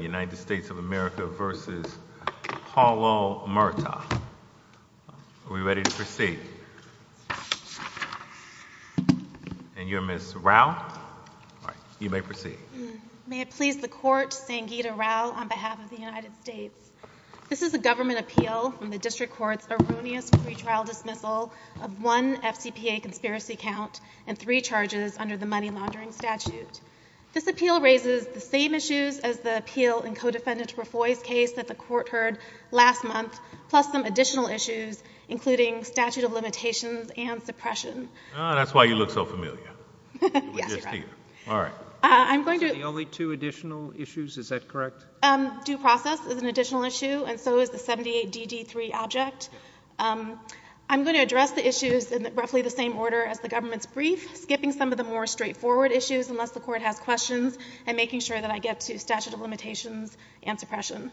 United States of America v. Paulo Murta. Are we ready to proceed? And you're Ms. Rao. You may proceed. May it please the Court, Sangeeta Rao on behalf of the United States. This is a government appeal from the District Court's erroneous pretrial dismissal of one FCPA conspiracy count and three charges under the money laundering statute. This appeal raises the same issues as the appeal in Co-Defendant Raffoi's case that the Court heard last month, plus some additional issues, including statute of limitations and suppression. That's why you look so familiar. Yes, you're right. All right. I'm going to Is it the only two additional issues? Is that correct? Due process is an additional issue, and so is the 78DD3 object. I'm going to address the issues in roughly the same order as the government's brief, skipping some of the more straightforward issues, unless the Court has questions, and making sure that I get to statute of limitations and suppression.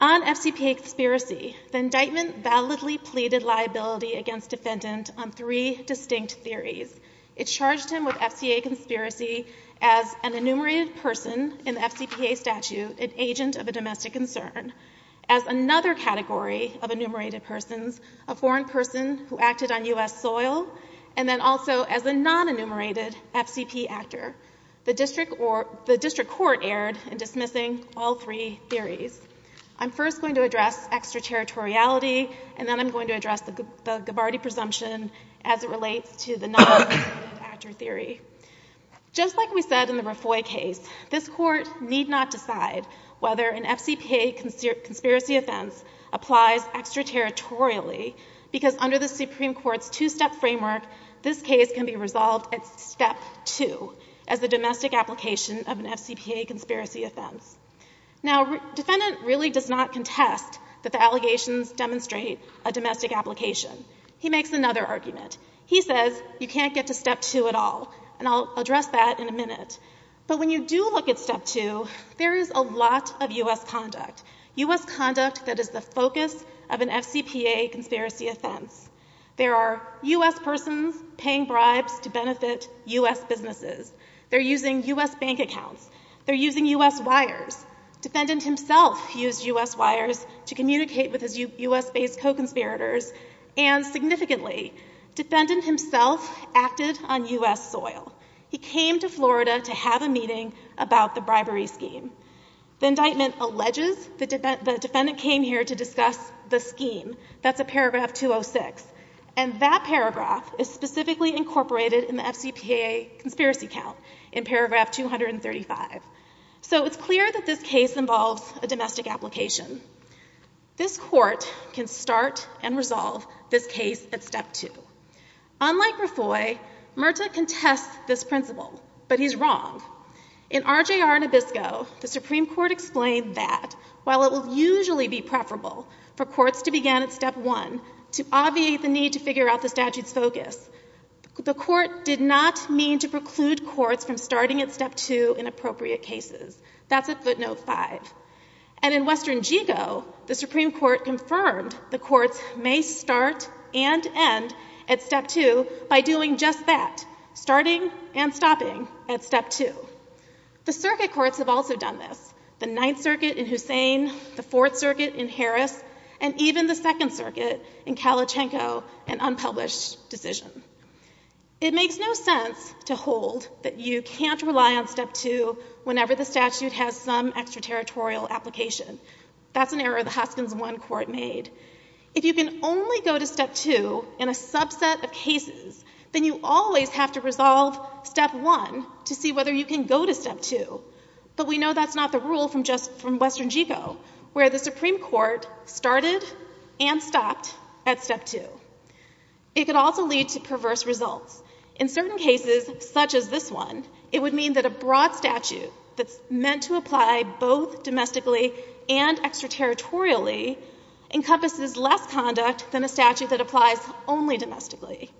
On FCPA conspiracy, the indictment validly pleaded liability against defendant on three distinct theories. It charged him with FCA conspiracy as an enumerated person in the FCPA statute, an agent of a domestic concern, as another category of enumerated persons, a foreign person who acted on U.S. land, and a non-enumerated FCPA actor. The district court erred in dismissing all three theories. I'm first going to address extraterritoriality, and then I'm going to address the Gabbardi presumption as it relates to the non-enumerated actor theory. Just like we said in the Raffoi case, this Court need not decide whether an FCPA conspiracy offense applies extraterritorially, because under the Supreme Court's two-step framework, this case can be resolved at step two, as a domestic application of an FCPA conspiracy offense. Now, defendant really does not contest that the allegations demonstrate a domestic application. He makes another argument. He says you can't get to step two at all, and I'll address that in a minute. But when you do look at step two, there is a lot of U.S. conduct, U.S. conduct that is the focus of an FCPA conspiracy offense. There are U.S. persons paying bribes to benefit U.S. businesses. They're using U.S. bank accounts. They're using U.S. wires. Defendant himself used U.S. wires to communicate with his U.S.-based co-conspirators, and significantly, defendant himself acted on U.S. soil. He came to Florida to have a meeting about the bribery scheme. The indictment alleges the defendant came here to discuss the scheme. That's at paragraph 206, and that paragraph is specifically incorporated in the FCPA conspiracy count in paragraph 235. So it's clear that this case involves a domestic application. This Court can start and resolve this case at step two. Unlike Refoy, Murta contests this principle, but he's wrong. In RJR Nabisco, the Supreme Court explained that while it will usually be preferable for courts to begin at step one to obviate the need to figure out the statute's focus, the Court did not mean to preclude courts from starting at step two in appropriate cases. That's at footnote five. And in Western Gigo, the Supreme Court confirmed the courts may start and end at step two by doing just that, starting and stopping at step two. The circuit courts have also done this, the Ninth Circuit in Hussein, the Fourth Circuit in Harris, and even the Second Circuit in Kalachenko, an unpublished decision. It makes no sense to hold that you can't rely on step two whenever the statute has some extraterritorial application. That's an error the Hoskins I Court made. If you can only go to step two in a subset of cases, then you always have to resolve step one to see whether you can go to step two. But we know that's not the rule from just from Western Gigo, where the Supreme Court started and stopped at step two. It could also lead to perverse results. In certain cases, such as this one, it would mean that a broad statute that's meant to apply both domestically and extraterritorially encompasses less conduct than a statute that applies only domestically.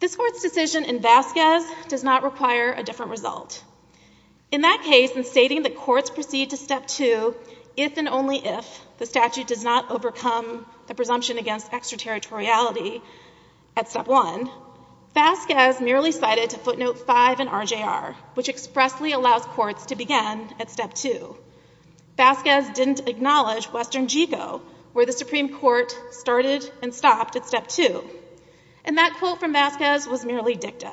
This Court's decision in Vasquez does not require a different result. In that case, in stating that courts proceed to step two if and only if the statute does not overcome the presumption against extraterritoriality at step one, Vasquez merely cited to footnote five in RJR, which expressly allows courts to begin at step two. Vasquez didn't acknowledge Western Gigo, where the Supreme Court started and stopped at step two. And that quote from Vasquez was merely dicta.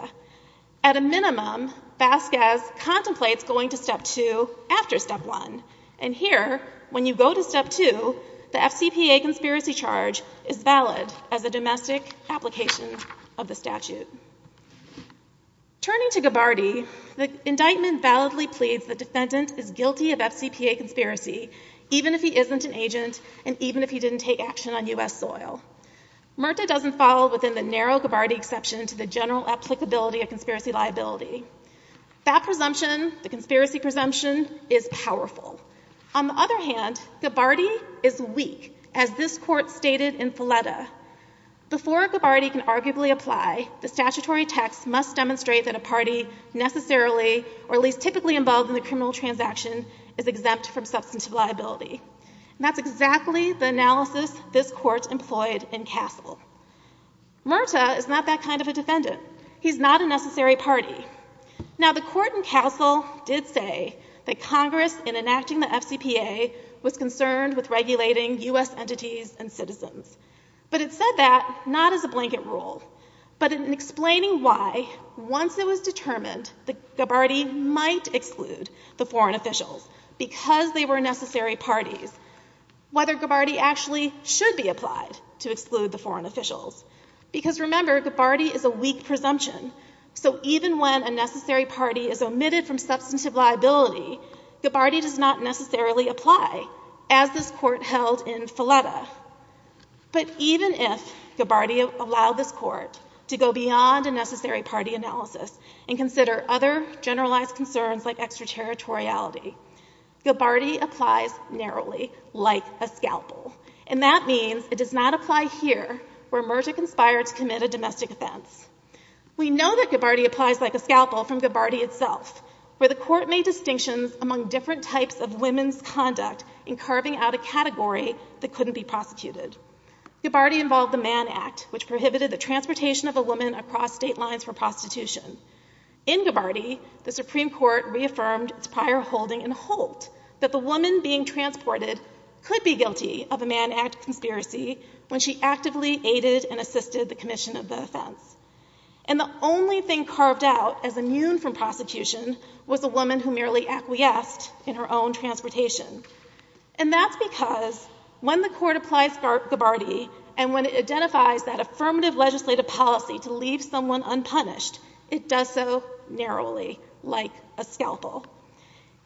At a minimum, Vasquez contemplates going to step two after step one. And here, when you go to step two, the FCPA conspiracy charge is valid as a domestic application of the statute. Turning to Gabbardi, the indictment validly pleads the defendant is guilty of FCPA conspiracy even if he isn't an agent and even if he didn't take action on U.S. soil. MRTA doesn't fall within the narrow Gabbardi exception to the general applicability of conspiracy charges. On the other hand, Gabbardi is weak, as this court stated in Filetta. Before Gabbardi can arguably apply, the statutory text must demonstrate that a party necessarily, or at least typically involved in the criminal transaction, is exempt from substantive liability. And that's exactly the analysis this court employed in Castle. MRTA is not that kind of a defendant. He's not a necessary party. Now, the court in Castle did say that Congress, in enacting the FCPA, was concerned with regulating U.S. entities and citizens. But it said that not as a blanket rule, but in explaining why, once it was determined that Gabbardi might exclude the foreign officials because they were necessary parties, whether Gabbardi actually should be applied to exclude the foreign officials. Because remember, Gabbardi is a weak presumption. So even when a necessary party is omitted from substantive liability, Gabbardi does not necessarily apply, as this court held in Filetta. But even if Gabbardi allowed this court to go beyond a necessary party analysis and consider other generalized concerns like extraterritoriality, Gabbardi applies narrowly, like a scalpel. And that means it does not apply here, where MRTA conspired to commit a domestic offense. We know that Gabbardi applies like a scalpel from Gabbardi itself, where the court made distinctions among different types of women's conduct in carving out a category that couldn't be prosecuted. Gabbardi involved the Mann Act, which prohibited the transportation of a woman across state lines for prostitution. In Gabbardi, the Supreme Court reaffirmed its prior holding and hoped that the woman being transported could be the commission of the offense. And the only thing carved out as immune from prosecution was a woman who merely acquiesced in her own transportation. And that's because when the court applies Gabbardi and when it identifies that affirmative legislative policy to leave someone unpunished, it does so narrowly, like a scalpel.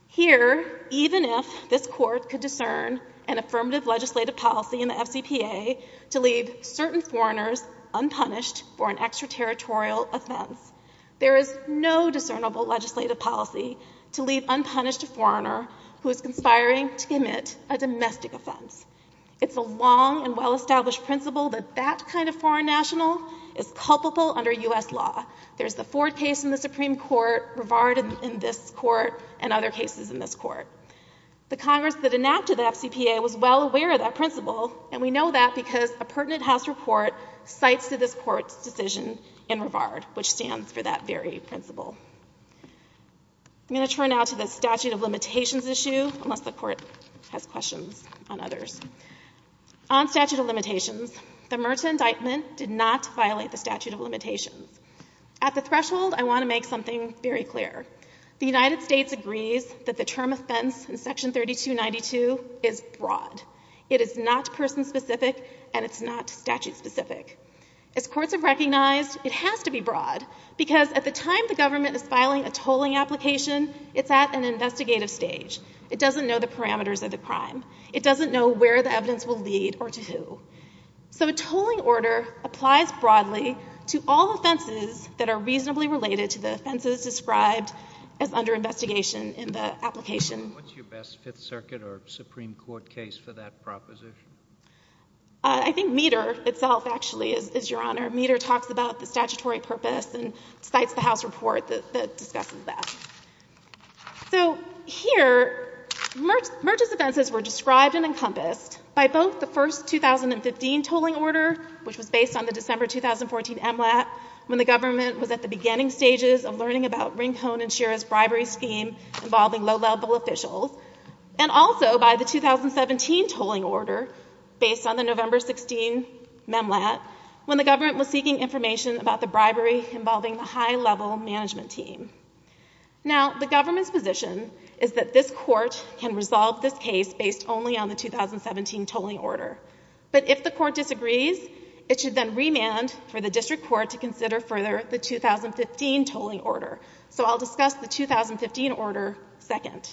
Here, even if this court could discern an affirmative legislative policy in the FCPA to leave certain foreigners unpunished for an extraterritorial offense, there is no discernible legislative policy to leave unpunished a foreigner who is conspiring to commit a domestic offense. It's a long and well-established principle that that kind of foreign national is culpable under U.S. law. There's the Ford case in the Supreme Court, Rivard in this court, and other cases in this court. The Congress that enacted the FCPA was well aware of that principle, and we know that because a pertinent House report cites to this court's decision in Rivard, which stands for that very principle. I'm going to turn now to the statute of limitations issue, unless the court has questions on others. On statute of limitations, the Murtaugh indictment did not violate the statute of limitations. At the threshold, I want to make something very clear. The United States agrees that the term offense in Section 3292 is broad. It is not person-specific, and it's not statute-specific. As courts have recognized, it has to be broad, because at the time the government is filing a tolling application, it's at an investigative stage. It doesn't know the parameters of the crime. It doesn't know where the evidence will lead or to who. So a tolling order applies broadly to all offenses that are reasonably related to the investigation in the application. What's your best Fifth Circuit or Supreme Court case for that proposition? I think Meador itself, actually, is your Honor. Meador talks about the statutory purpose and cites the House report that discusses that. So here, Murch's offenses were described and encompassed by both the first 2015 tolling order, which was based on the December 2014 MLAT, when the government was at the beginning stages of learning about Rincon and Shira's bribery scheme involving low-level officials, and also by the 2017 tolling order, based on the November 16 MLAT, when the government was seeking information about the bribery involving the high-level management team. Now, the government's position is that this Court can resolve this case based only on the 2017 tolling order. But if the Court disagrees, it should then remand for the District Court to consider further the 2015 tolling order. So I'll discuss the 2015 order second.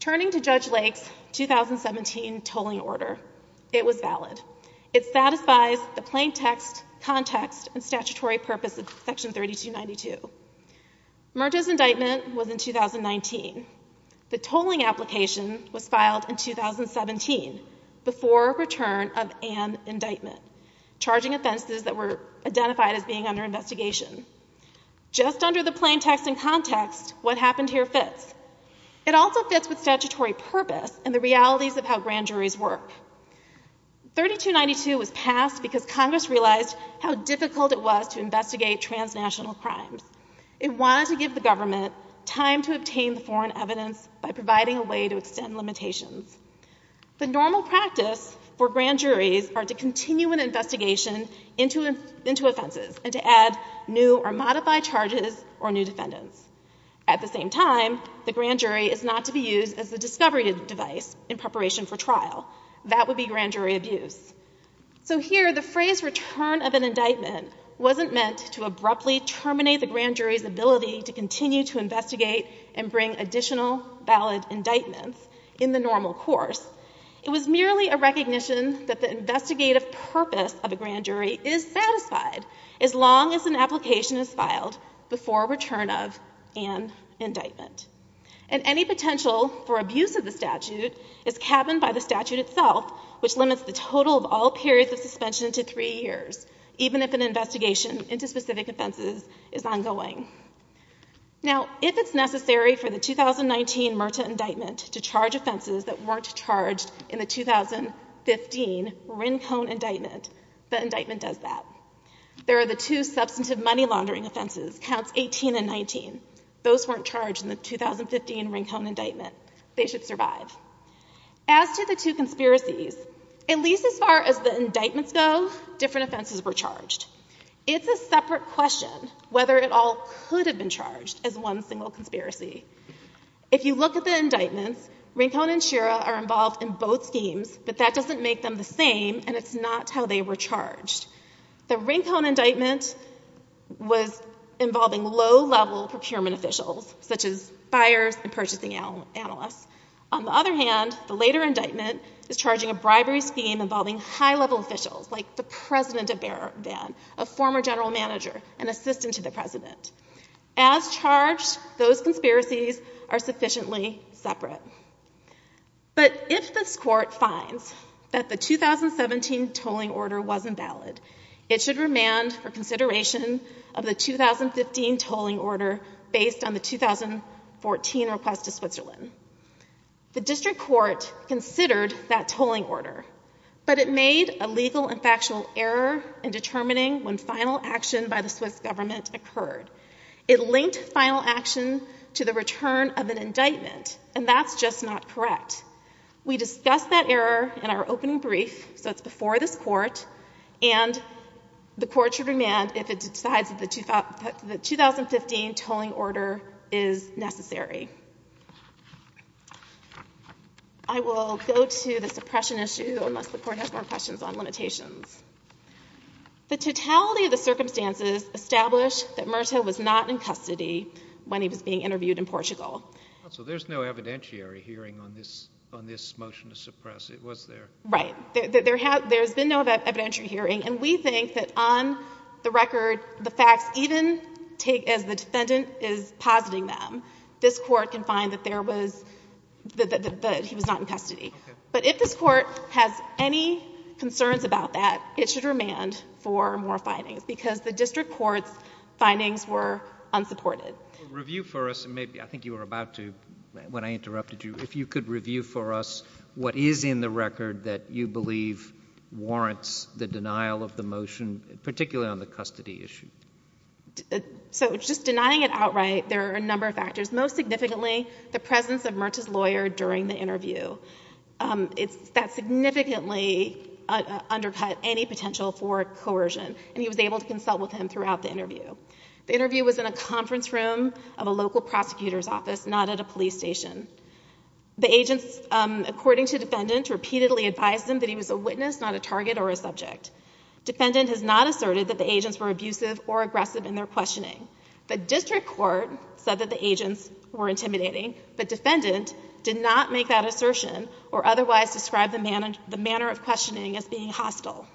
Turning to Judge Lake's 2017 tolling order, it was valid. It satisfies the plaintext, context, and statutory purpose of Section 3292. Murch's indictment was in 2019. The tolling application was filed in 2017, before return of an indictment, charging offenses that were identified as being under investigation. Just under the plaintext and context, what happened here fits. It also fits with statutory purpose and the realities of how grand juries work. 3292 was passed because Congress realized how difficult it was to investigate transnational crimes. It wanted to give the government time to obtain the foreign evidence by providing a way to extend limitations. The normal practice for grand juries are to continue an investigation into offenses and to add new or modified charges or new defendants. At the same time, the grand jury is not to be used as the discovery device in preparation for trial. That would be grand jury abuse. So here, the phrase return of an indictment wasn't meant to abruptly terminate the grand jury indictments in the normal course. It was merely a recognition that the investigative purpose of a grand jury is satisfied as long as an application is filed before return of an indictment. And any potential for abuse of the statute is cabined by the statute itself, which limits the total of all periods of suspension to three years, even if an investigation into specific offenses is ongoing. Now, if it's necessary for the 2019 Myrta indictment to charge offenses that weren't charged in the 2015 Rincon indictment, the indictment does that. There are the two substantive money laundering offenses, counts 18 and 19. Those weren't charged in the 2015 Rincon indictment. They should survive. As to the two conspiracies, at least as far as the indictments go, different offenses were charged. It's a separate question whether it all could have been charged as one single conspiracy. If you look at the indictments, Rincon and Shira are involved in both schemes, but that doesn't make them the same, and it's not how they were charged. The Rincon indictment was involving low-level procurement officials, such as buyers and purchasing analysts. On the other hand, the later indictment is charging a bribery scheme involving high-level officials, like the president of Bear Van, a former general manager, an assistant to the president. As charged, those conspiracies are sufficiently separate. But if this Court finds that the 2017 tolling order wasn't valid, it should remand for consideration of the 2015 tolling order based on the 2014 request to Switzerland. The district court considered that tolling order, but it made a legal and factual error in determining when final action by the Swiss government occurred. It linked final action to the return of an indictment, and that's just not correct. We discussed that error in our opening brief, so it's before this Court, and the Court should remand if it decides that the 2015 tolling order is necessary. I will go to the suppression issue, unless the Court has more questions on limitations. The totality of the circumstances established that Murtaugh was not in custody when he was being interviewed in Portugal. So there's no evidentiary hearing on this motion to suppress. It was there. Right. There has been no evidentiary hearing, and we think that on the record, the facts even take, as the defendant is positing them, this Court can find that there was, that he was not in custody. Okay. But if this Court has any concerns about that, it should remand for more findings, because the district court's findings were unsupported. Review for us, and maybe, I think you were about to, when I interrupted you, if you could review for us what is in the record that you believe warrants the denial of the motion, particularly on the custody issue. So just denying it outright, there are a number of factors. Most significantly, the presence of Murtaugh's lawyer during the interview. That significantly undercut any potential for coercion, and he was able to consult with him throughout the interview. The interview was in a conference room of a local prosecutor's office, not at a The agents, according to defendant, repeatedly advised him that he was a witness, not a target or a subject. Defendant has not asserted that the agents were abusive or aggressive in their questioning. The district court said that the agents were intimidating, but defendant did not make that assertion or otherwise describe the manner of questioning as being hostile.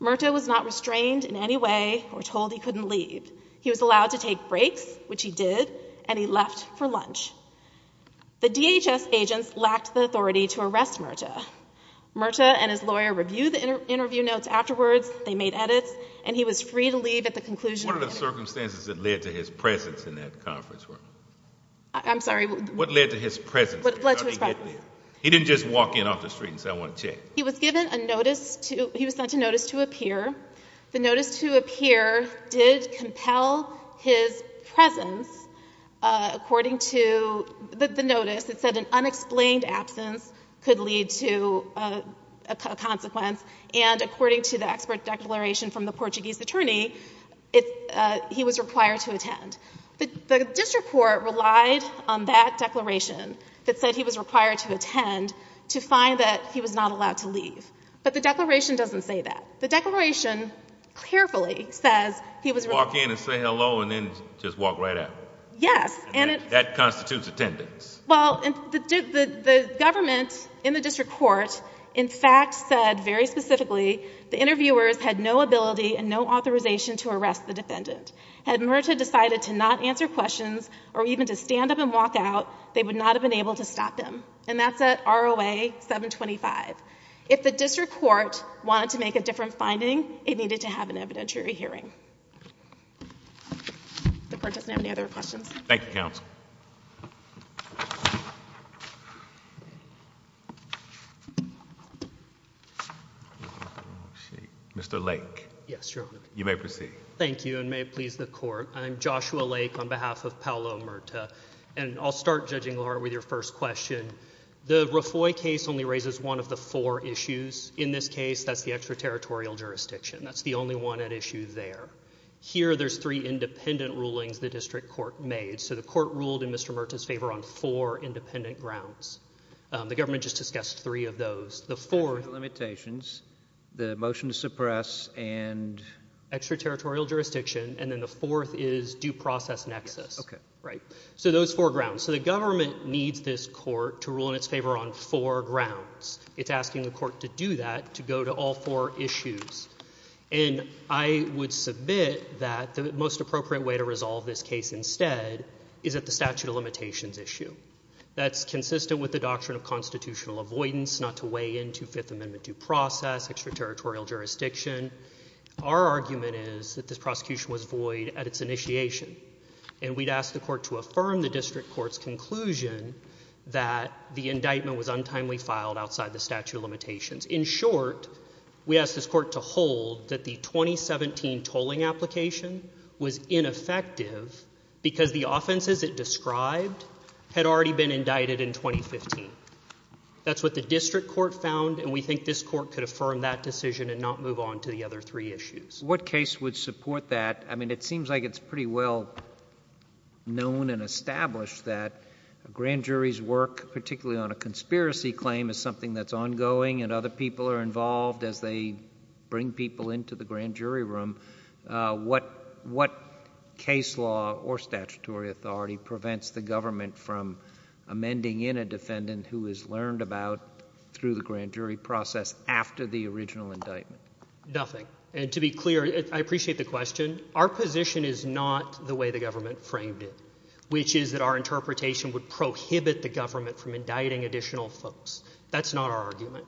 Murtaugh was not restrained in any way or told he couldn't leave. He was allowed to take breaks, which he did, and he left for lunch. The DHS agents lacked the authority to arrest Murtaugh. Murtaugh and his lawyer reviewed the interview notes afterwards, they made edits, and he was free to leave at the conclusion of the interview. What are the circumstances that led to his presence in that conference room? I'm sorry. What led to his presence? What led to his presence? How did he get there? He didn't just walk in off the street and say, I want to check. He was given a notice to, he was sent a notice to appear. The notice to appear did compel his presence according to the notice. It said an unexplained absence could lead to a consequence. And according to the expert declaration from the Portuguese attorney, he was required to attend. The district court relied on that declaration that said he was required to attend to find that he was not allowed to leave. But the declaration doesn't say that. The declaration carefully says he was allowed to leave. Walk in and say hello and then just walk right out. Yes. That constitutes attendance. Well, the government in the district court, in fact, said very specifically, the interviewers had no ability and no authorization to arrest the defendant. Had Murtaugh decided to not answer questions or even to stand up and walk out, they would not have been able to stop him. And that's at ROA 725. If the district court wanted to make a different finding, it needed to have an evidentiary hearing. If the court doesn't have any other questions. Thank you, counsel. Mr. Lake. Yes, Your Honor. You may proceed. Thank you, and may it please the court. I'm Joshua Lake on behalf of Paolo Murtaugh. And I'll start, Judging Lord, with your first question. The Rafoi case only raises one of the four issues. In this case, that's the extraterritorial jurisdiction. That's the only one at issue there. Here, there's three independent rulings the district court made. So the court ruled in Mr. Murtaugh's favor on four independent grounds. The government just discussed three of those. The fourth. Limitations. The motion to suppress and. Extraterritorial jurisdiction. And then the fourth is due process nexus. Okay. Right. So those four grounds. So the government needs this court to rule in its favor on four grounds. It's asking the court to do that. To go to all four issues. And I would submit that the most appropriate way to resolve this case instead. Is that the statute of limitations issue. That's consistent with the doctrine of constitutional avoidance. Not to weigh into Fifth Amendment due process. Extraterritorial jurisdiction. Our argument is that this prosecution was void at its initiation. And we'd ask the court to affirm the district court's conclusion. That the indictment was untimely filed outside the statute of limitations. In short. We asked this court to hold that the 2017 tolling application. Was ineffective. Because the offenses it described. Had already been indicted in 2015. That's what the district court found. And we think this court could affirm that decision. And not move on to the other three issues. What case would support that? I mean it seems like it's pretty well known and established. That a grand jury's work. Particularly on a conspiracy claim. Is something that's ongoing. And other people are involved. As they bring people into the grand jury room. What case law or statutory authority. Prevents the government from amending in a defendant. Who is learned about through the grand jury process. After the original indictment. Nothing. And to be clear. I appreciate the question. Our position is not the way the government framed it. Which is that our interpretation. Would prohibit the government from indicting additional folks. That's not our argument.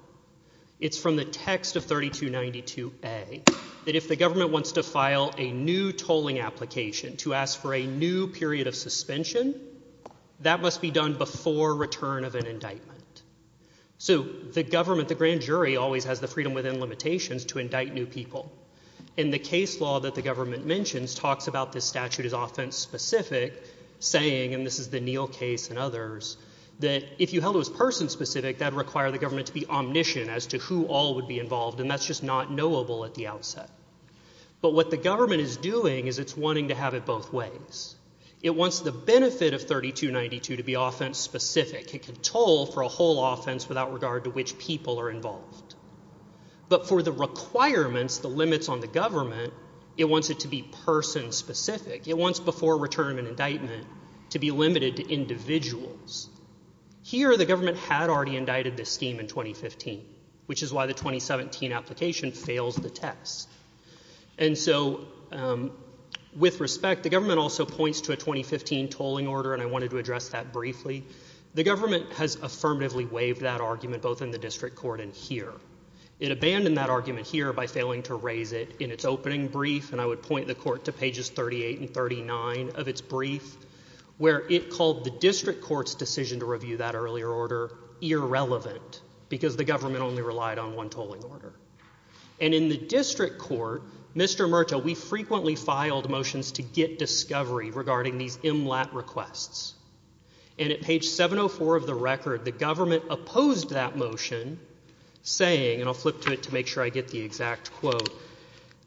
It's from the text of 3292A. That if the government wants to file a new tolling application. To ask for a new period of suspension. That must be done before return of an indictment. So the government. The grand jury always has the freedom within limitations. To indict new people. And the case law that the government mentions. Talks about this statute as offense specific. Saying. And this is the Neal case and others. That if you held it was person specific. That would require the government to be omniscient. As to who all would be involved. And that's just not knowable at the outset. But what the government is doing. Is it's wanting to have it both ways. It wants the benefit of 3292. To be offense specific. It can toll for a whole offense. Without regard to which people are involved. But for the requirements. The limits on the government. It wants it to be person specific. It wants before return of an indictment. To be limited to individuals. Here the government had already indicted this scheme in 2015. Which is why the 2017 application fails the test. And so. With respect. The government also points to a 2015 tolling order. And I wanted to address that briefly. The government has affirmatively waived that argument. Both in the district court and here. It abandoned that argument here. By failing to raise it. In it's opening brief. And I would point the court to pages 38 and 39. Of it's brief. Where it called the district court's decision to review that earlier order. Irrelevant. Because the government only relied on one tolling order. And in the district court. Mr. Murtaugh. We frequently filed motions to get discovery. Regarding these MLAT requests. And at page 704 of the record. The government opposed that motion. Saying. And I'll flip to it to make sure I get the exact quote.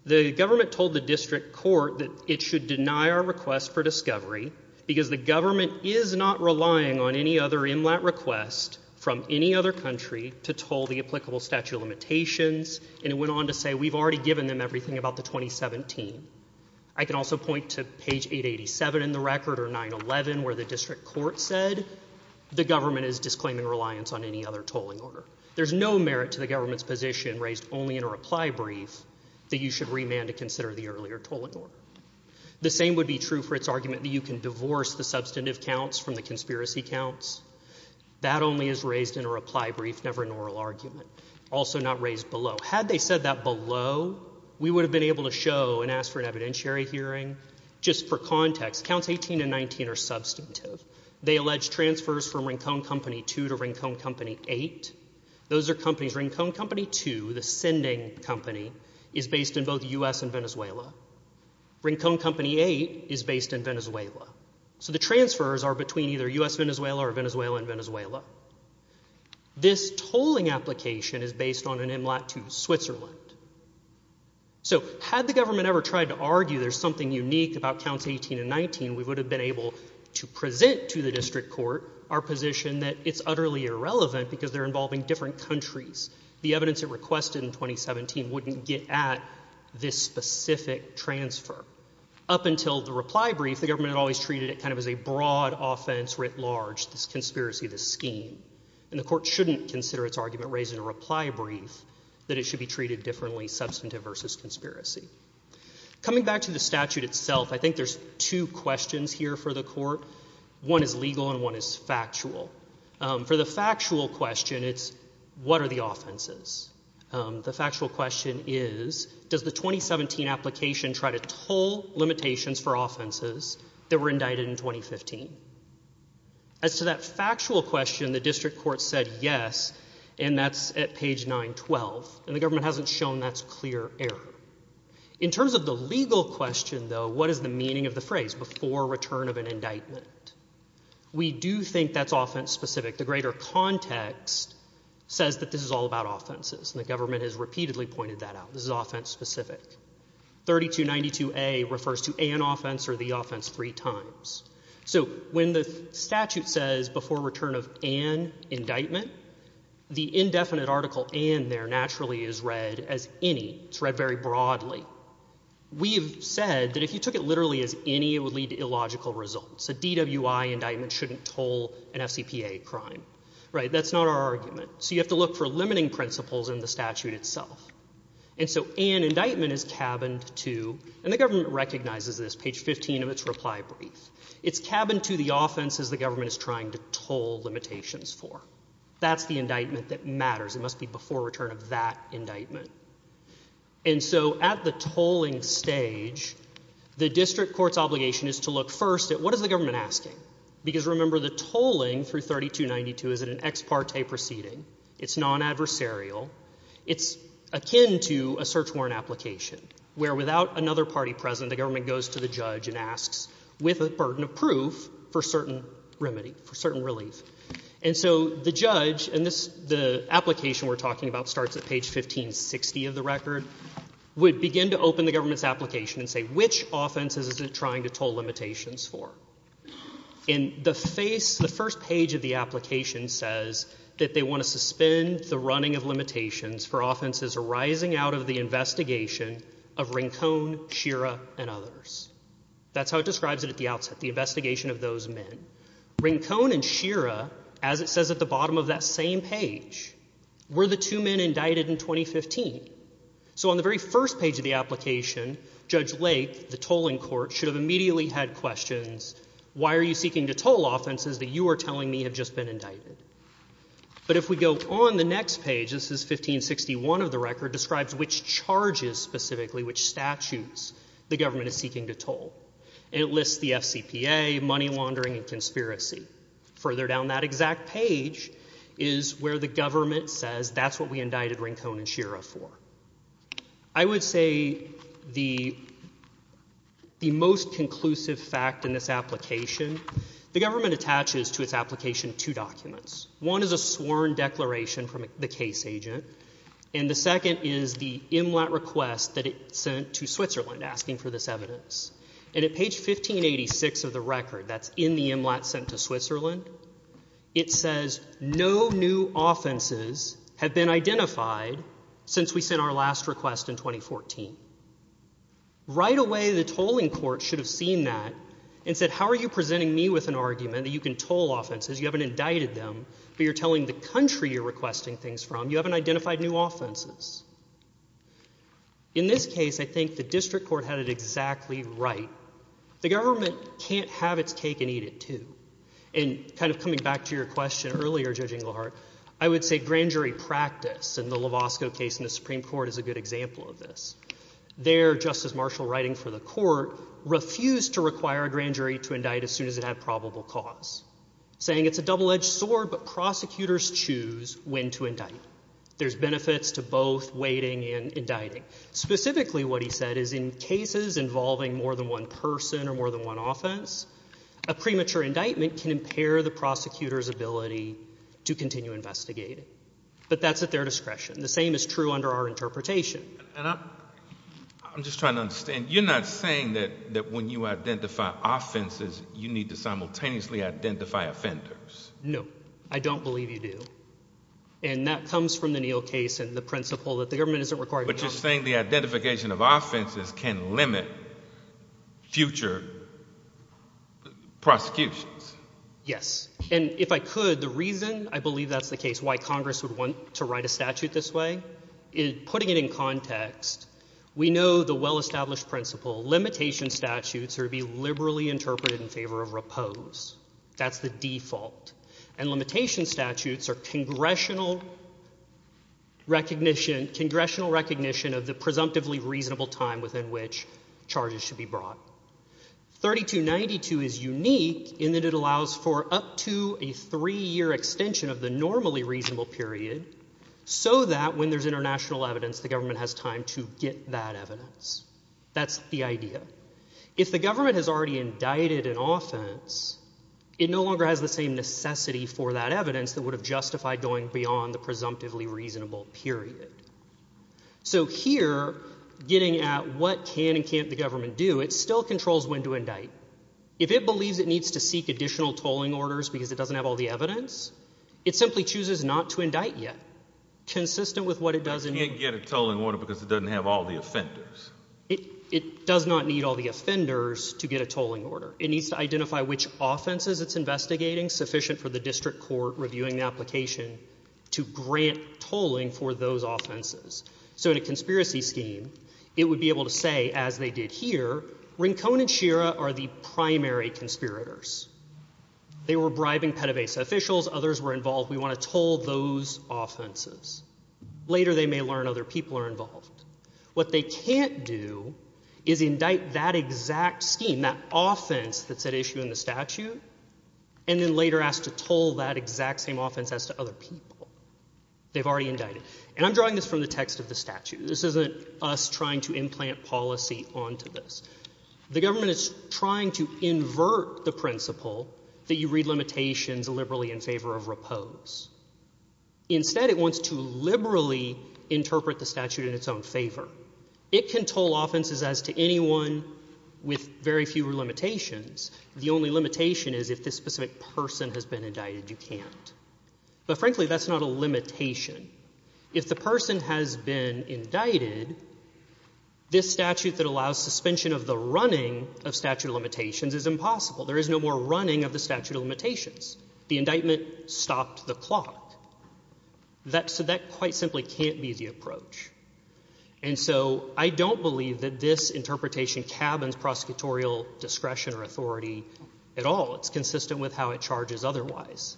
The government told the district court. That it should deny our request for discovery. Because the government is not relying on any other MLAT request. From any other country. To toll the applicable statute of limitations. And it went on to say. We've already given them everything about the 2017. I can also point to page 887 in the record. Or 911. Where the district court said. The government is disclaiming reliance on any other tolling order. There's no merit to the government's position. Raised only in a reply brief. That you should remand to consider the earlier tolling order. The same would be true for it's argument. That you can divorce the substantive counts from the conspiracy counts. That only is raised in a reply brief. Never an oral argument. Also not raised below. Had they said that below. We would have been able to show. And ask for an evidentiary hearing. Just for context. Counts 18 and 19 are substantive. They allege transfers from Rincone Company 2 to Rincone Company 8. Those are companies. Rincone Company 2. The sending company. Is based in both U.S. and Venezuela. Rincone Company 8. Is based in Venezuela. So the transfers are between either U.S. and Venezuela. Or Venezuela and Venezuela. This tolling application is based on an MLAT to Switzerland. So had the government ever tried to argue. There's something unique about counts 18 and 19. We would have been able to present to the district court. Our position that it's utterly irrelevant. Because they're involving different countries. The evidence it requested in 2017. Wouldn't get at this specific transfer. Up until the reply brief. The government had always treated it kind of as a broad offense. Writ large. This conspiracy. This scheme. And the court shouldn't consider it's argument. Raised in a reply brief. That it should be treated differently. Substantive versus conspiracy. Coming back to the statute itself. I think there's two questions here for the court. One is legal. And one is factual. For the factual question. It's what are the offenses? The factual question is. Does the 2017 application try to toll limitations for offenses. That were indicted in 2015? As to that factual question. The district court said yes. And that's at page 912. And the government hasn't shown that's clear error. In terms of the legal question though. What is the meaning of the phrase? Before return of an indictment. We do think that's offense specific. The greater context. Says that this is all about offenses. And the government has repeatedly pointed that out. This is offense specific. 3292A refers to an offense. Or the offense three times. So when the statute says. Before return of an indictment. The indefinite article. And there naturally is read as any. It's read very broadly. We have said that if you took it literally as any. It would lead to illogical results. A DWI indictment shouldn't toll an FCPA crime. Right. That's not our argument. So you have to look for limiting principles in the statute itself. And so an indictment is cabined to. And the government recognizes this. Page 15 of its reply brief. It's cabined to the offenses the government is trying to toll limitations for. That's the indictment that matters. It must be before return of that indictment. And so at the tolling stage. The district court's obligation is to look first at what is the government asking. Because remember the tolling through 3292 is an ex parte proceeding. It's non-adversarial. It's akin to a search warrant application. Where without another party present. The government goes to the judge and asks. With a burden of proof. For certain remedy. For certain relief. And so the judge. And the application we're talking about starts at page 1560 of the record. Would begin to open the government's application. And say which offenses is it trying to toll limitations for. And the first page of the application says. That they want to suspend the running of limitations. For offenses arising out of the investigation. Of Rincone. Shira. And others. That's how it describes it at the outset. The investigation of those men. Rincone and Shira. As it says at the bottom of that same page. Were the two men indicted in 2015. So on the very first page of the application. Judge Lake. The tolling court should have immediately had questions. Why are you seeking to toll offenses that you are telling me have just been indicted. But if we go on the next page. This is 1561 of the record. Describes which charges specifically. Which statutes. The government is seeking to toll. And it lists the FCPA. Money laundering and conspiracy. Further down that exact page. Is where the government says. That's what we indicted Rincone and Shira for. I would say. The. The most conclusive fact in this application. The government attaches to its application. Two documents. One is a sworn declaration from the case agent. And the second is the. That it sent to Switzerland. Asking for this evidence. And at page 1586 of the record. That's in the. Sent to Switzerland. It says. No new offenses. Have been identified. Since we sent our last request in 2014. Right away. The tolling court should have seen that. And said. How are you presenting me with an argument that you can toll offenses. You haven't indicted them. But you're telling the country you're requesting things from. You haven't identified new offenses. In this case. I think the district court had it exactly. Right. The government can't have its cake and eat it too. And kind of coming back to your question earlier. Judging the heart. I would say grand jury practice. And the love Osco case in the Supreme Court is a good example of this. There. Justice Marshall writing for the court. Refused to require a grand jury to indict. As soon as it had probable cause. Saying it's a double-edged sword. But prosecutors choose. When to indict. There's benefits to both waiting and indicting. Specifically what he said is in cases involving more than one person. Or more than one offense. A premature indictment can impair the prosecutor's ability. To continue investigating. But that's at their discretion. The same is true under our interpretation. I'm just trying to understand. You're not saying that. That when you identify offenses. You need to simultaneously identify offenders. No. I don't believe you do. And that comes from the Neal case. And the principle that the government isn't required. But you're saying the identification of offenses can limit. Future. Prosecutions. Yes. And if I could. The reason I believe that's the case. Why Congress would want to write a statute this way. Is putting it in context. We know the well-established principle. Limitation statutes are to be liberally interpreted in favor of repose. That's the default. And limitation statutes are congressional recognition. Congressional recognition of the presumptively reasonable time. Within which charges should be brought. 3292 is unique. In that it allows for up to a three-year extension. Of the normally reasonable period. So that when there's international evidence. The government has time to get that evidence. That's the idea. If the government has already indicted an offense. It no longer has the same necessity for that evidence. That would have justified going beyond the presumptively reasonable period. So here. Getting at what can and can't the government do. It still controls when to indict. If it believes it needs to seek additional tolling orders. Because it doesn't have all the evidence. It simply chooses not to indict yet. Consistent with what it does. It can't get a tolling order because it doesn't have all the offenders. It does not need all the offenders to get a tolling order. It needs to identify which offenses it's investigating. Sufficient for the district court reviewing the application. To grant tolling for those offenses. So in a conspiracy scheme. It would be able to say as they did here. Rincon and Shira are the primary conspirators. They were bribing PEDAVASA officials. Others were involved. We want to toll those offenses. Later they may learn other people are involved. What they can't do. Is indict that exact scheme. And that offense that's at issue in the statute. And then later ask to toll that exact same offense as to other people. They've already indicted. And I'm drawing this from the text of the statute. This isn't us trying to implant policy onto this. The government is trying to invert the principle. That you read limitations liberally in favor of repose. Instead it wants to liberally interpret the statute in its own favor. It can toll offenses as to anyone with very few limitations. The only limitation is if this specific person has been indicted. You can't. But frankly that's not a limitation. If the person has been indicted. This statute that allows suspension of the running of statute of limitations is impossible. There is no more running of the statute of limitations. The indictment stopped the clock. So that quite simply can't be the approach. And so I don't believe that this interpretation cabins prosecutorial discretion or authority at all. It's consistent with how it charges otherwise.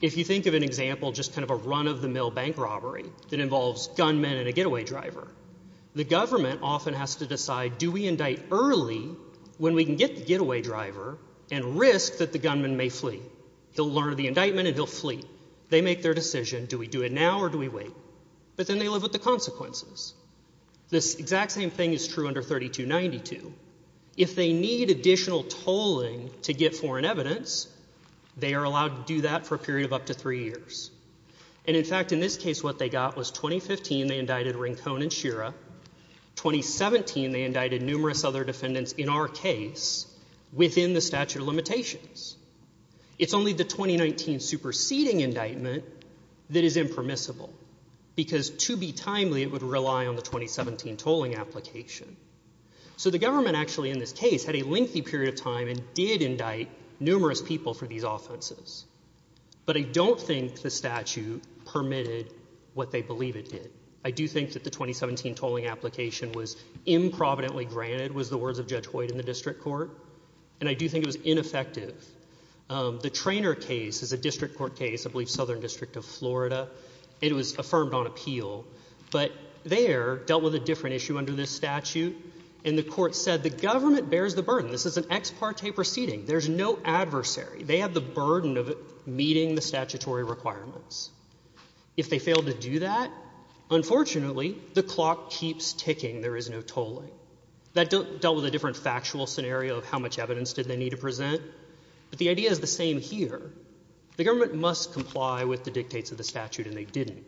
If you think of an example, just kind of a run of the mill bank robbery that involves gunmen and a getaway driver. The government often has to decide do we indict early when we can get the getaway driver and risk that the gunman may flee. He'll learn of the indictment and he'll flee. They make their decision. Do we do it now or do we wait? But then they live with the consequences. This exact same thing is true under 3292. If they need additional tolling to get foreign evidence, they are allowed to do that for a period of up to three years. And in fact in this case what they got was 2015 they indicted Rincon and Shira. 2017 they indicted numerous other defendants in our case within the statute of limitations. It's only the 2019 superseding indictment that is impermissible because to be timely it would rely on the 2017 tolling application. So the government actually in this case had a lengthy period of time and did indict numerous people for these offenses. But I don't think the statute permitted what they believe it did. I do think that the 2017 tolling application was improvidently granted was the words of Judge Hoyt in the district court. And I do think it was ineffective. The Traynor case is a district court case, I believe Southern District of Florida. It was affirmed on appeal. But there dealt with a different issue under this statute. And the court said the government bears the burden. This is an ex parte proceeding. There's no adversary. They have the burden of meeting the statutory requirements. If they fail to do that, unfortunately the clock keeps ticking. There is no tolling. That dealt with a different factual scenario of how much evidence did they need to present. But the idea is the same here. The government must comply with the dictates of the statute, and they didn't.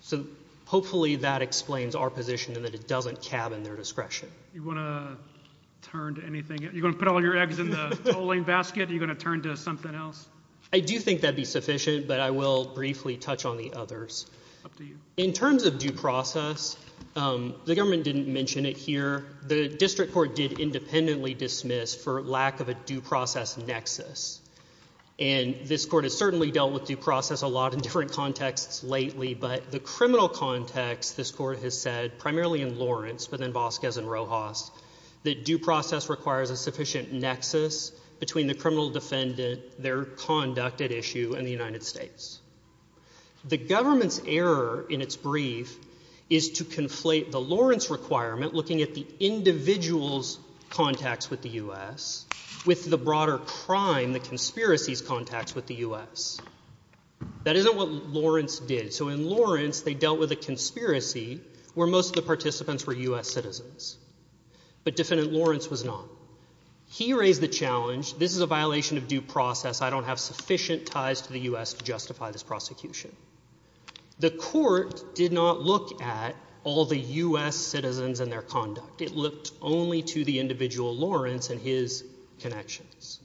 So hopefully that explains our position in that it doesn't cabin their discretion. You want to turn to anything? You're going to put all your eggs in the tolling basket? Are you going to turn to something else? I do think that would be sufficient, but I will briefly touch on the others. In terms of due process, the government didn't mention it here. The district court did independently dismiss for lack of a due process nexus. And this court has certainly dealt with due process a lot in different contexts lately. But the criminal context, this court has said, primarily in Lawrence but then Vasquez and Rojas, that due process requires a sufficient nexus between the criminal defendant, their conduct at issue, and the United States. The government's error in its brief is to conflate the Lawrence requirement, looking at the individual's contacts with the U.S., with the broader crime, the conspiracy's contacts with the U.S. That isn't what Lawrence did. So in Lawrence, they dealt with a conspiracy where most of the participants were U.S. citizens. But Defendant Lawrence was not. He raised the challenge, this is a violation of due process. I don't have sufficient ties to the U.S. to justify this prosecution. The court did not look at all the U.S. citizens and their conduct. It looked only to the individual Lawrence and his connections.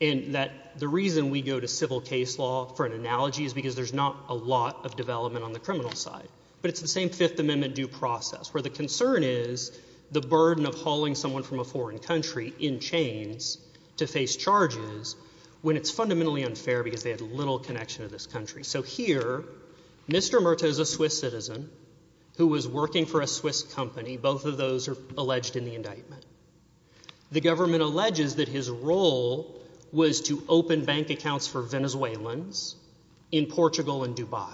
And the reason we go to civil case law for an analogy is because there's not a lot of development on the criminal side. But it's the same Fifth Amendment due process, where the concern is the burden of hauling someone from a foreign country in chains to face charges when it's fundamentally unfair because they had little connection to this country. So here, Mr. Murta is a Swiss citizen who was working for a Swiss company. Both of those are alleged in the indictment. The government alleges that his role was to open bank accounts for Venezuelans in Portugal and Dubai.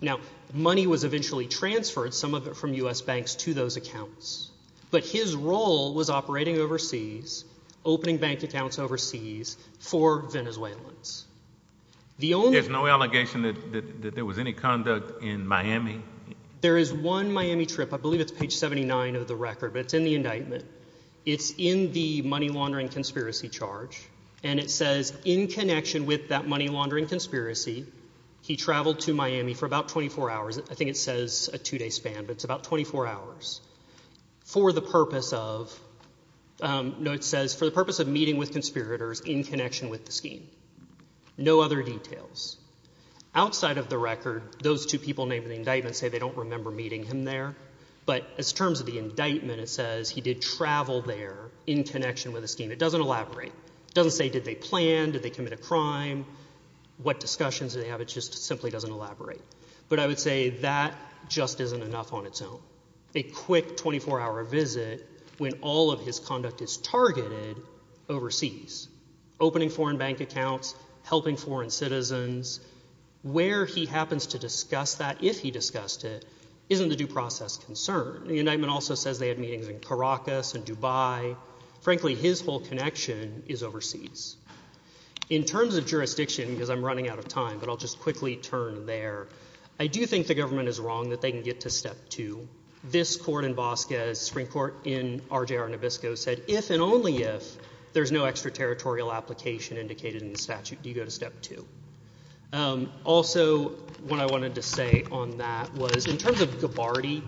Now, money was eventually transferred, some of it from U.S. banks, to those accounts. But his role was operating overseas, opening bank accounts overseas for Venezuelans. There's no allegation that there was any conduct in Miami? There is one Miami trip. I believe it's page 79 of the record, but it's in the indictment. It's in the money laundering conspiracy charge, and it says in connection with that money laundering conspiracy, he traveled to Miami for about 24 hours. I think it says a two-day span, but it's about 24 hours for the purpose of meeting with conspirators in connection with the scheme. No other details. Outside of the record, those two people named in the indictment say they don't remember meeting him there. But as terms of the indictment, it says he did travel there in connection with the scheme. It doesn't elaborate. It doesn't say did they plan, did they commit a crime, what discussions did they have. It just simply doesn't elaborate. But I would say that just isn't enough on its own. a quick 24-hour visit when all of his conduct is targeted overseas, opening foreign bank accounts, helping foreign citizens. Where he happens to discuss that, if he discussed it, isn't a due process concern. The indictment also says they had meetings in Caracas and Dubai. Frankly, his whole connection is overseas. In terms of jurisdiction, because I'm running out of time, but I'll just quickly turn there. I do think the government is wrong that they can get to Step 2. This court in Vasquez, Supreme Court in RJR Nabisco, said if and only if there's no extraterritorial application indicated in the statute, you go to Step 2. Also, what I wanted to say on that was in terms of Gabbardi,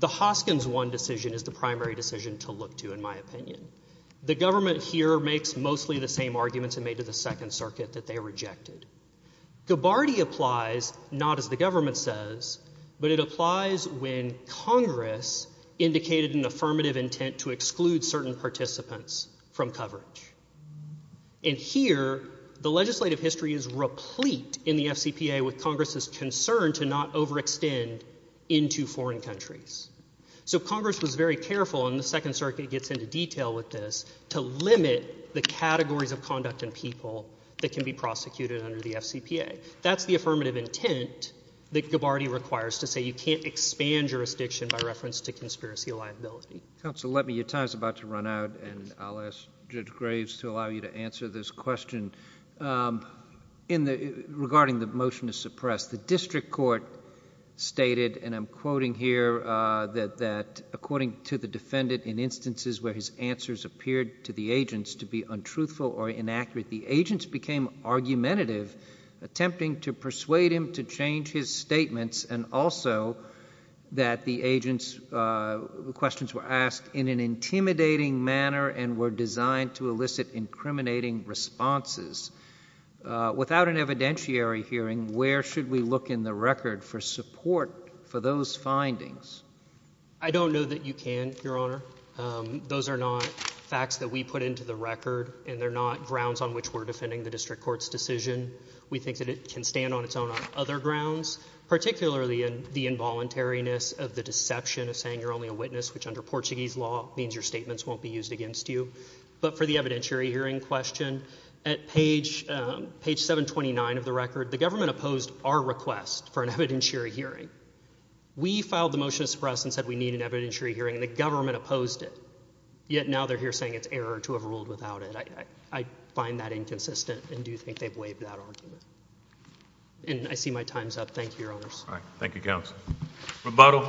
the Hoskins 1 decision is the primary decision to look to, in my opinion. The government here makes mostly the same arguments it made to the Second Circuit that they rejected. Gabbardi applies not as the government says, but it applies when Congress indicated an affirmative intent to exclude certain participants from coverage. And here, the legislative history is replete in the FCPA with Congress's concern to not overextend into foreign countries. So Congress was very careful, and the Second Circuit gets into detail with this, to limit the categories of conduct in people that can be prosecuted under the FCPA. That's the affirmative intent that Gabbardi requires to say you can't expand jurisdiction by reference to conspiracy liability. Counsel, your time is about to run out, and I'll ask Judge Graves to allow you to answer this question regarding the motion to suppress. The district court stated, and I'm quoting here, that according to the defendant in instances where his answers appeared to the agents to be untruthful or inaccurate, the agents became argumentative, attempting to persuade him to change his statements and also that the agents' questions were asked in an intimidating manner and were designed to elicit incriminating responses. Without an evidentiary hearing, where should we look in the record for support for those findings? I don't know that you can, Your Honor. Those are not facts that we put into the record, and they're not grounds on which we're defending the district court's decision. We think that it can stand on its own on other grounds, particularly in the involuntariness of the deception of saying you're only a witness, which under Portuguese law means your statements won't be used against you. But for the evidentiary hearing question, at page 729 of the record, the government opposed our request for an evidentiary hearing. We filed the motion to suppress and said we need an evidentiary hearing, and the government opposed it. Yet now they're here saying it's error to have ruled without it. I find that inconsistent and do think they've waived that argument. And I see my time's up. Thank you, Your Honors. All right. Thank you, Counsel. Rebuttal.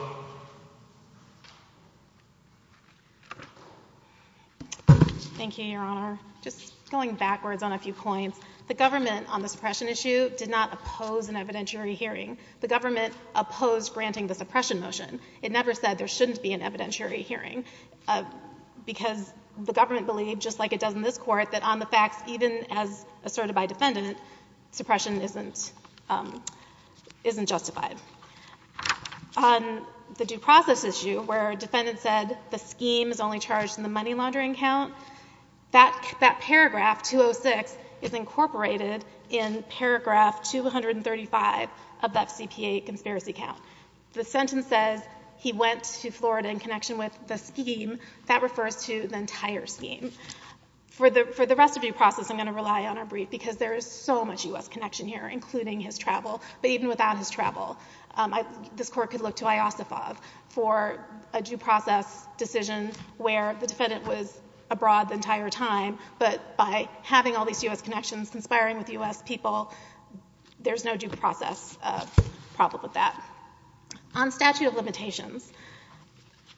Thank you, Your Honor. Just going backwards on a few points. The government on the suppression issue did not oppose an evidentiary hearing. The government opposed granting the suppression motion. It never said there shouldn't be an evidentiary hearing because the government believed, just like it does in this Court, that on the facts, even as asserted by defendant, suppression isn't justified. On the due process issue, where a defendant said the scheme is only charged in the money laundering count, that paragraph 206 is incorporated in paragraph 235 of the FCPA conspiracy count. The sentence says he went to Florida in connection with the scheme. That refers to the entire scheme. For the rest of due process, I'm going to rely on our brief because there is so much U.S. connection here, including his travel. But even without his travel, this Court could look to Iosifov for a due process decision where the defendant was abroad the entire time. But by having all these U.S. connections, conspiring with U.S. people, there's no due process problem with that. On statute of limitations,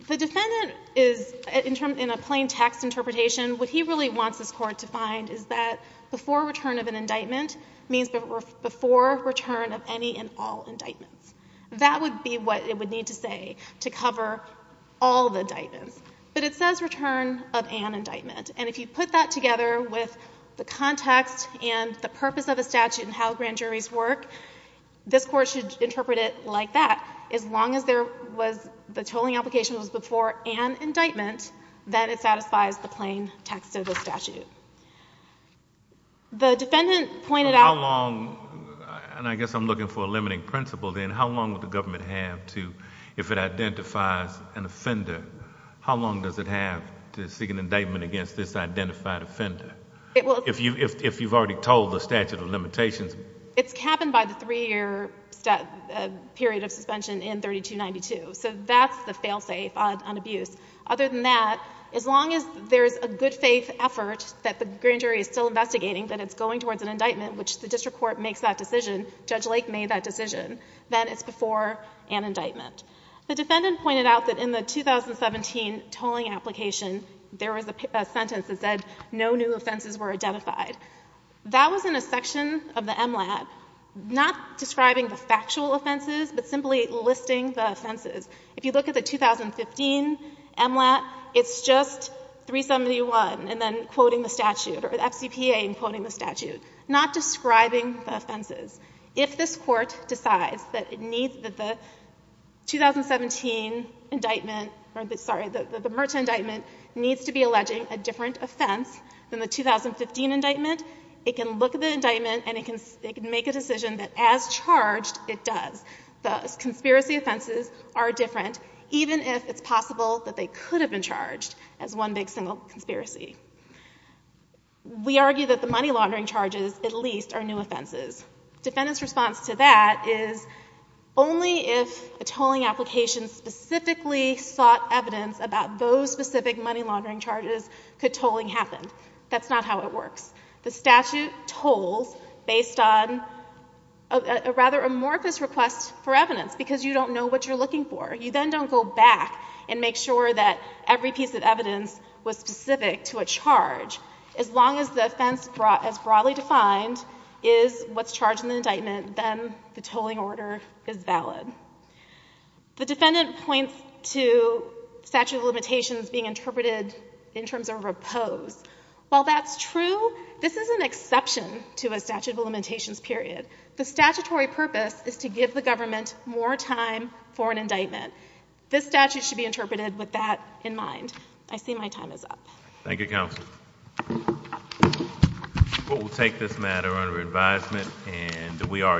the defendant is, in a plain text interpretation, what he really wants this Court to find is that before return of an indictment means before return of any and all indictments. That would be what it would need to say to cover all the indictments. But it says return of an indictment. And if you put that together with the context and the purpose of the statute and how grand juries work, this Court should interpret it like that. As long as the tolling application was before an indictment, then it satisfies the plain text of the statute. How long, and I guess I'm looking for a limiting principle then, how long would the government have to, if it identifies an offender, how long does it have to seek an indictment against this identified offender? If you've already told the statute of limitations. It's capped by the three-year period of suspension in 3292. So that's the fail-safe on abuse. Other than that, as long as there's a good-faith effort that the grand jury is still investigating, that it's going towards an indictment, which the district court makes that decision, Judge Lake made that decision, then it's before an indictment. The defendant pointed out that in the 2017 tolling application, there was a sentence that said no new offenses were identified. That was in a section of the MLAB, not describing the factual offenses, but simply listing the offenses. If you look at the 2015 MLAB, it's just 371 and then quoting the statute, or the FCPA and quoting the statute, not describing the offenses. If this Court decides that it needs, that the 2017 indictment, or the, sorry, the Merchant indictment needs to be alleging a different offense than the 2015 indictment, it can look at the indictment and it can make a decision that as charged, it does. The conspiracy offenses are different, even if it's possible that they could have been charged as one big single conspiracy. We argue that the money laundering charges at least are new offenses. Defendant's response to that is only if a tolling application specifically sought evidence about those specific money laundering charges could tolling happen. That's not how it works. The statute tolls based on a rather amorphous request for evidence because you don't know what you're looking for. You then don't go back and make sure that every piece of evidence was specific to a charge. As long as the offense as broadly defined is what's charged in the indictment, then the tolling order is valid. The defendant points to statute of limitations being interpreted in terms of repose. While that's true, this is an exception to a statute of limitations period. The statutory purpose is to give the government more time for an indictment. This statute should be interpreted with that in mind. I see my time is up. Thank you, Counsel. We'll take this matter under advisement and we are adjourned.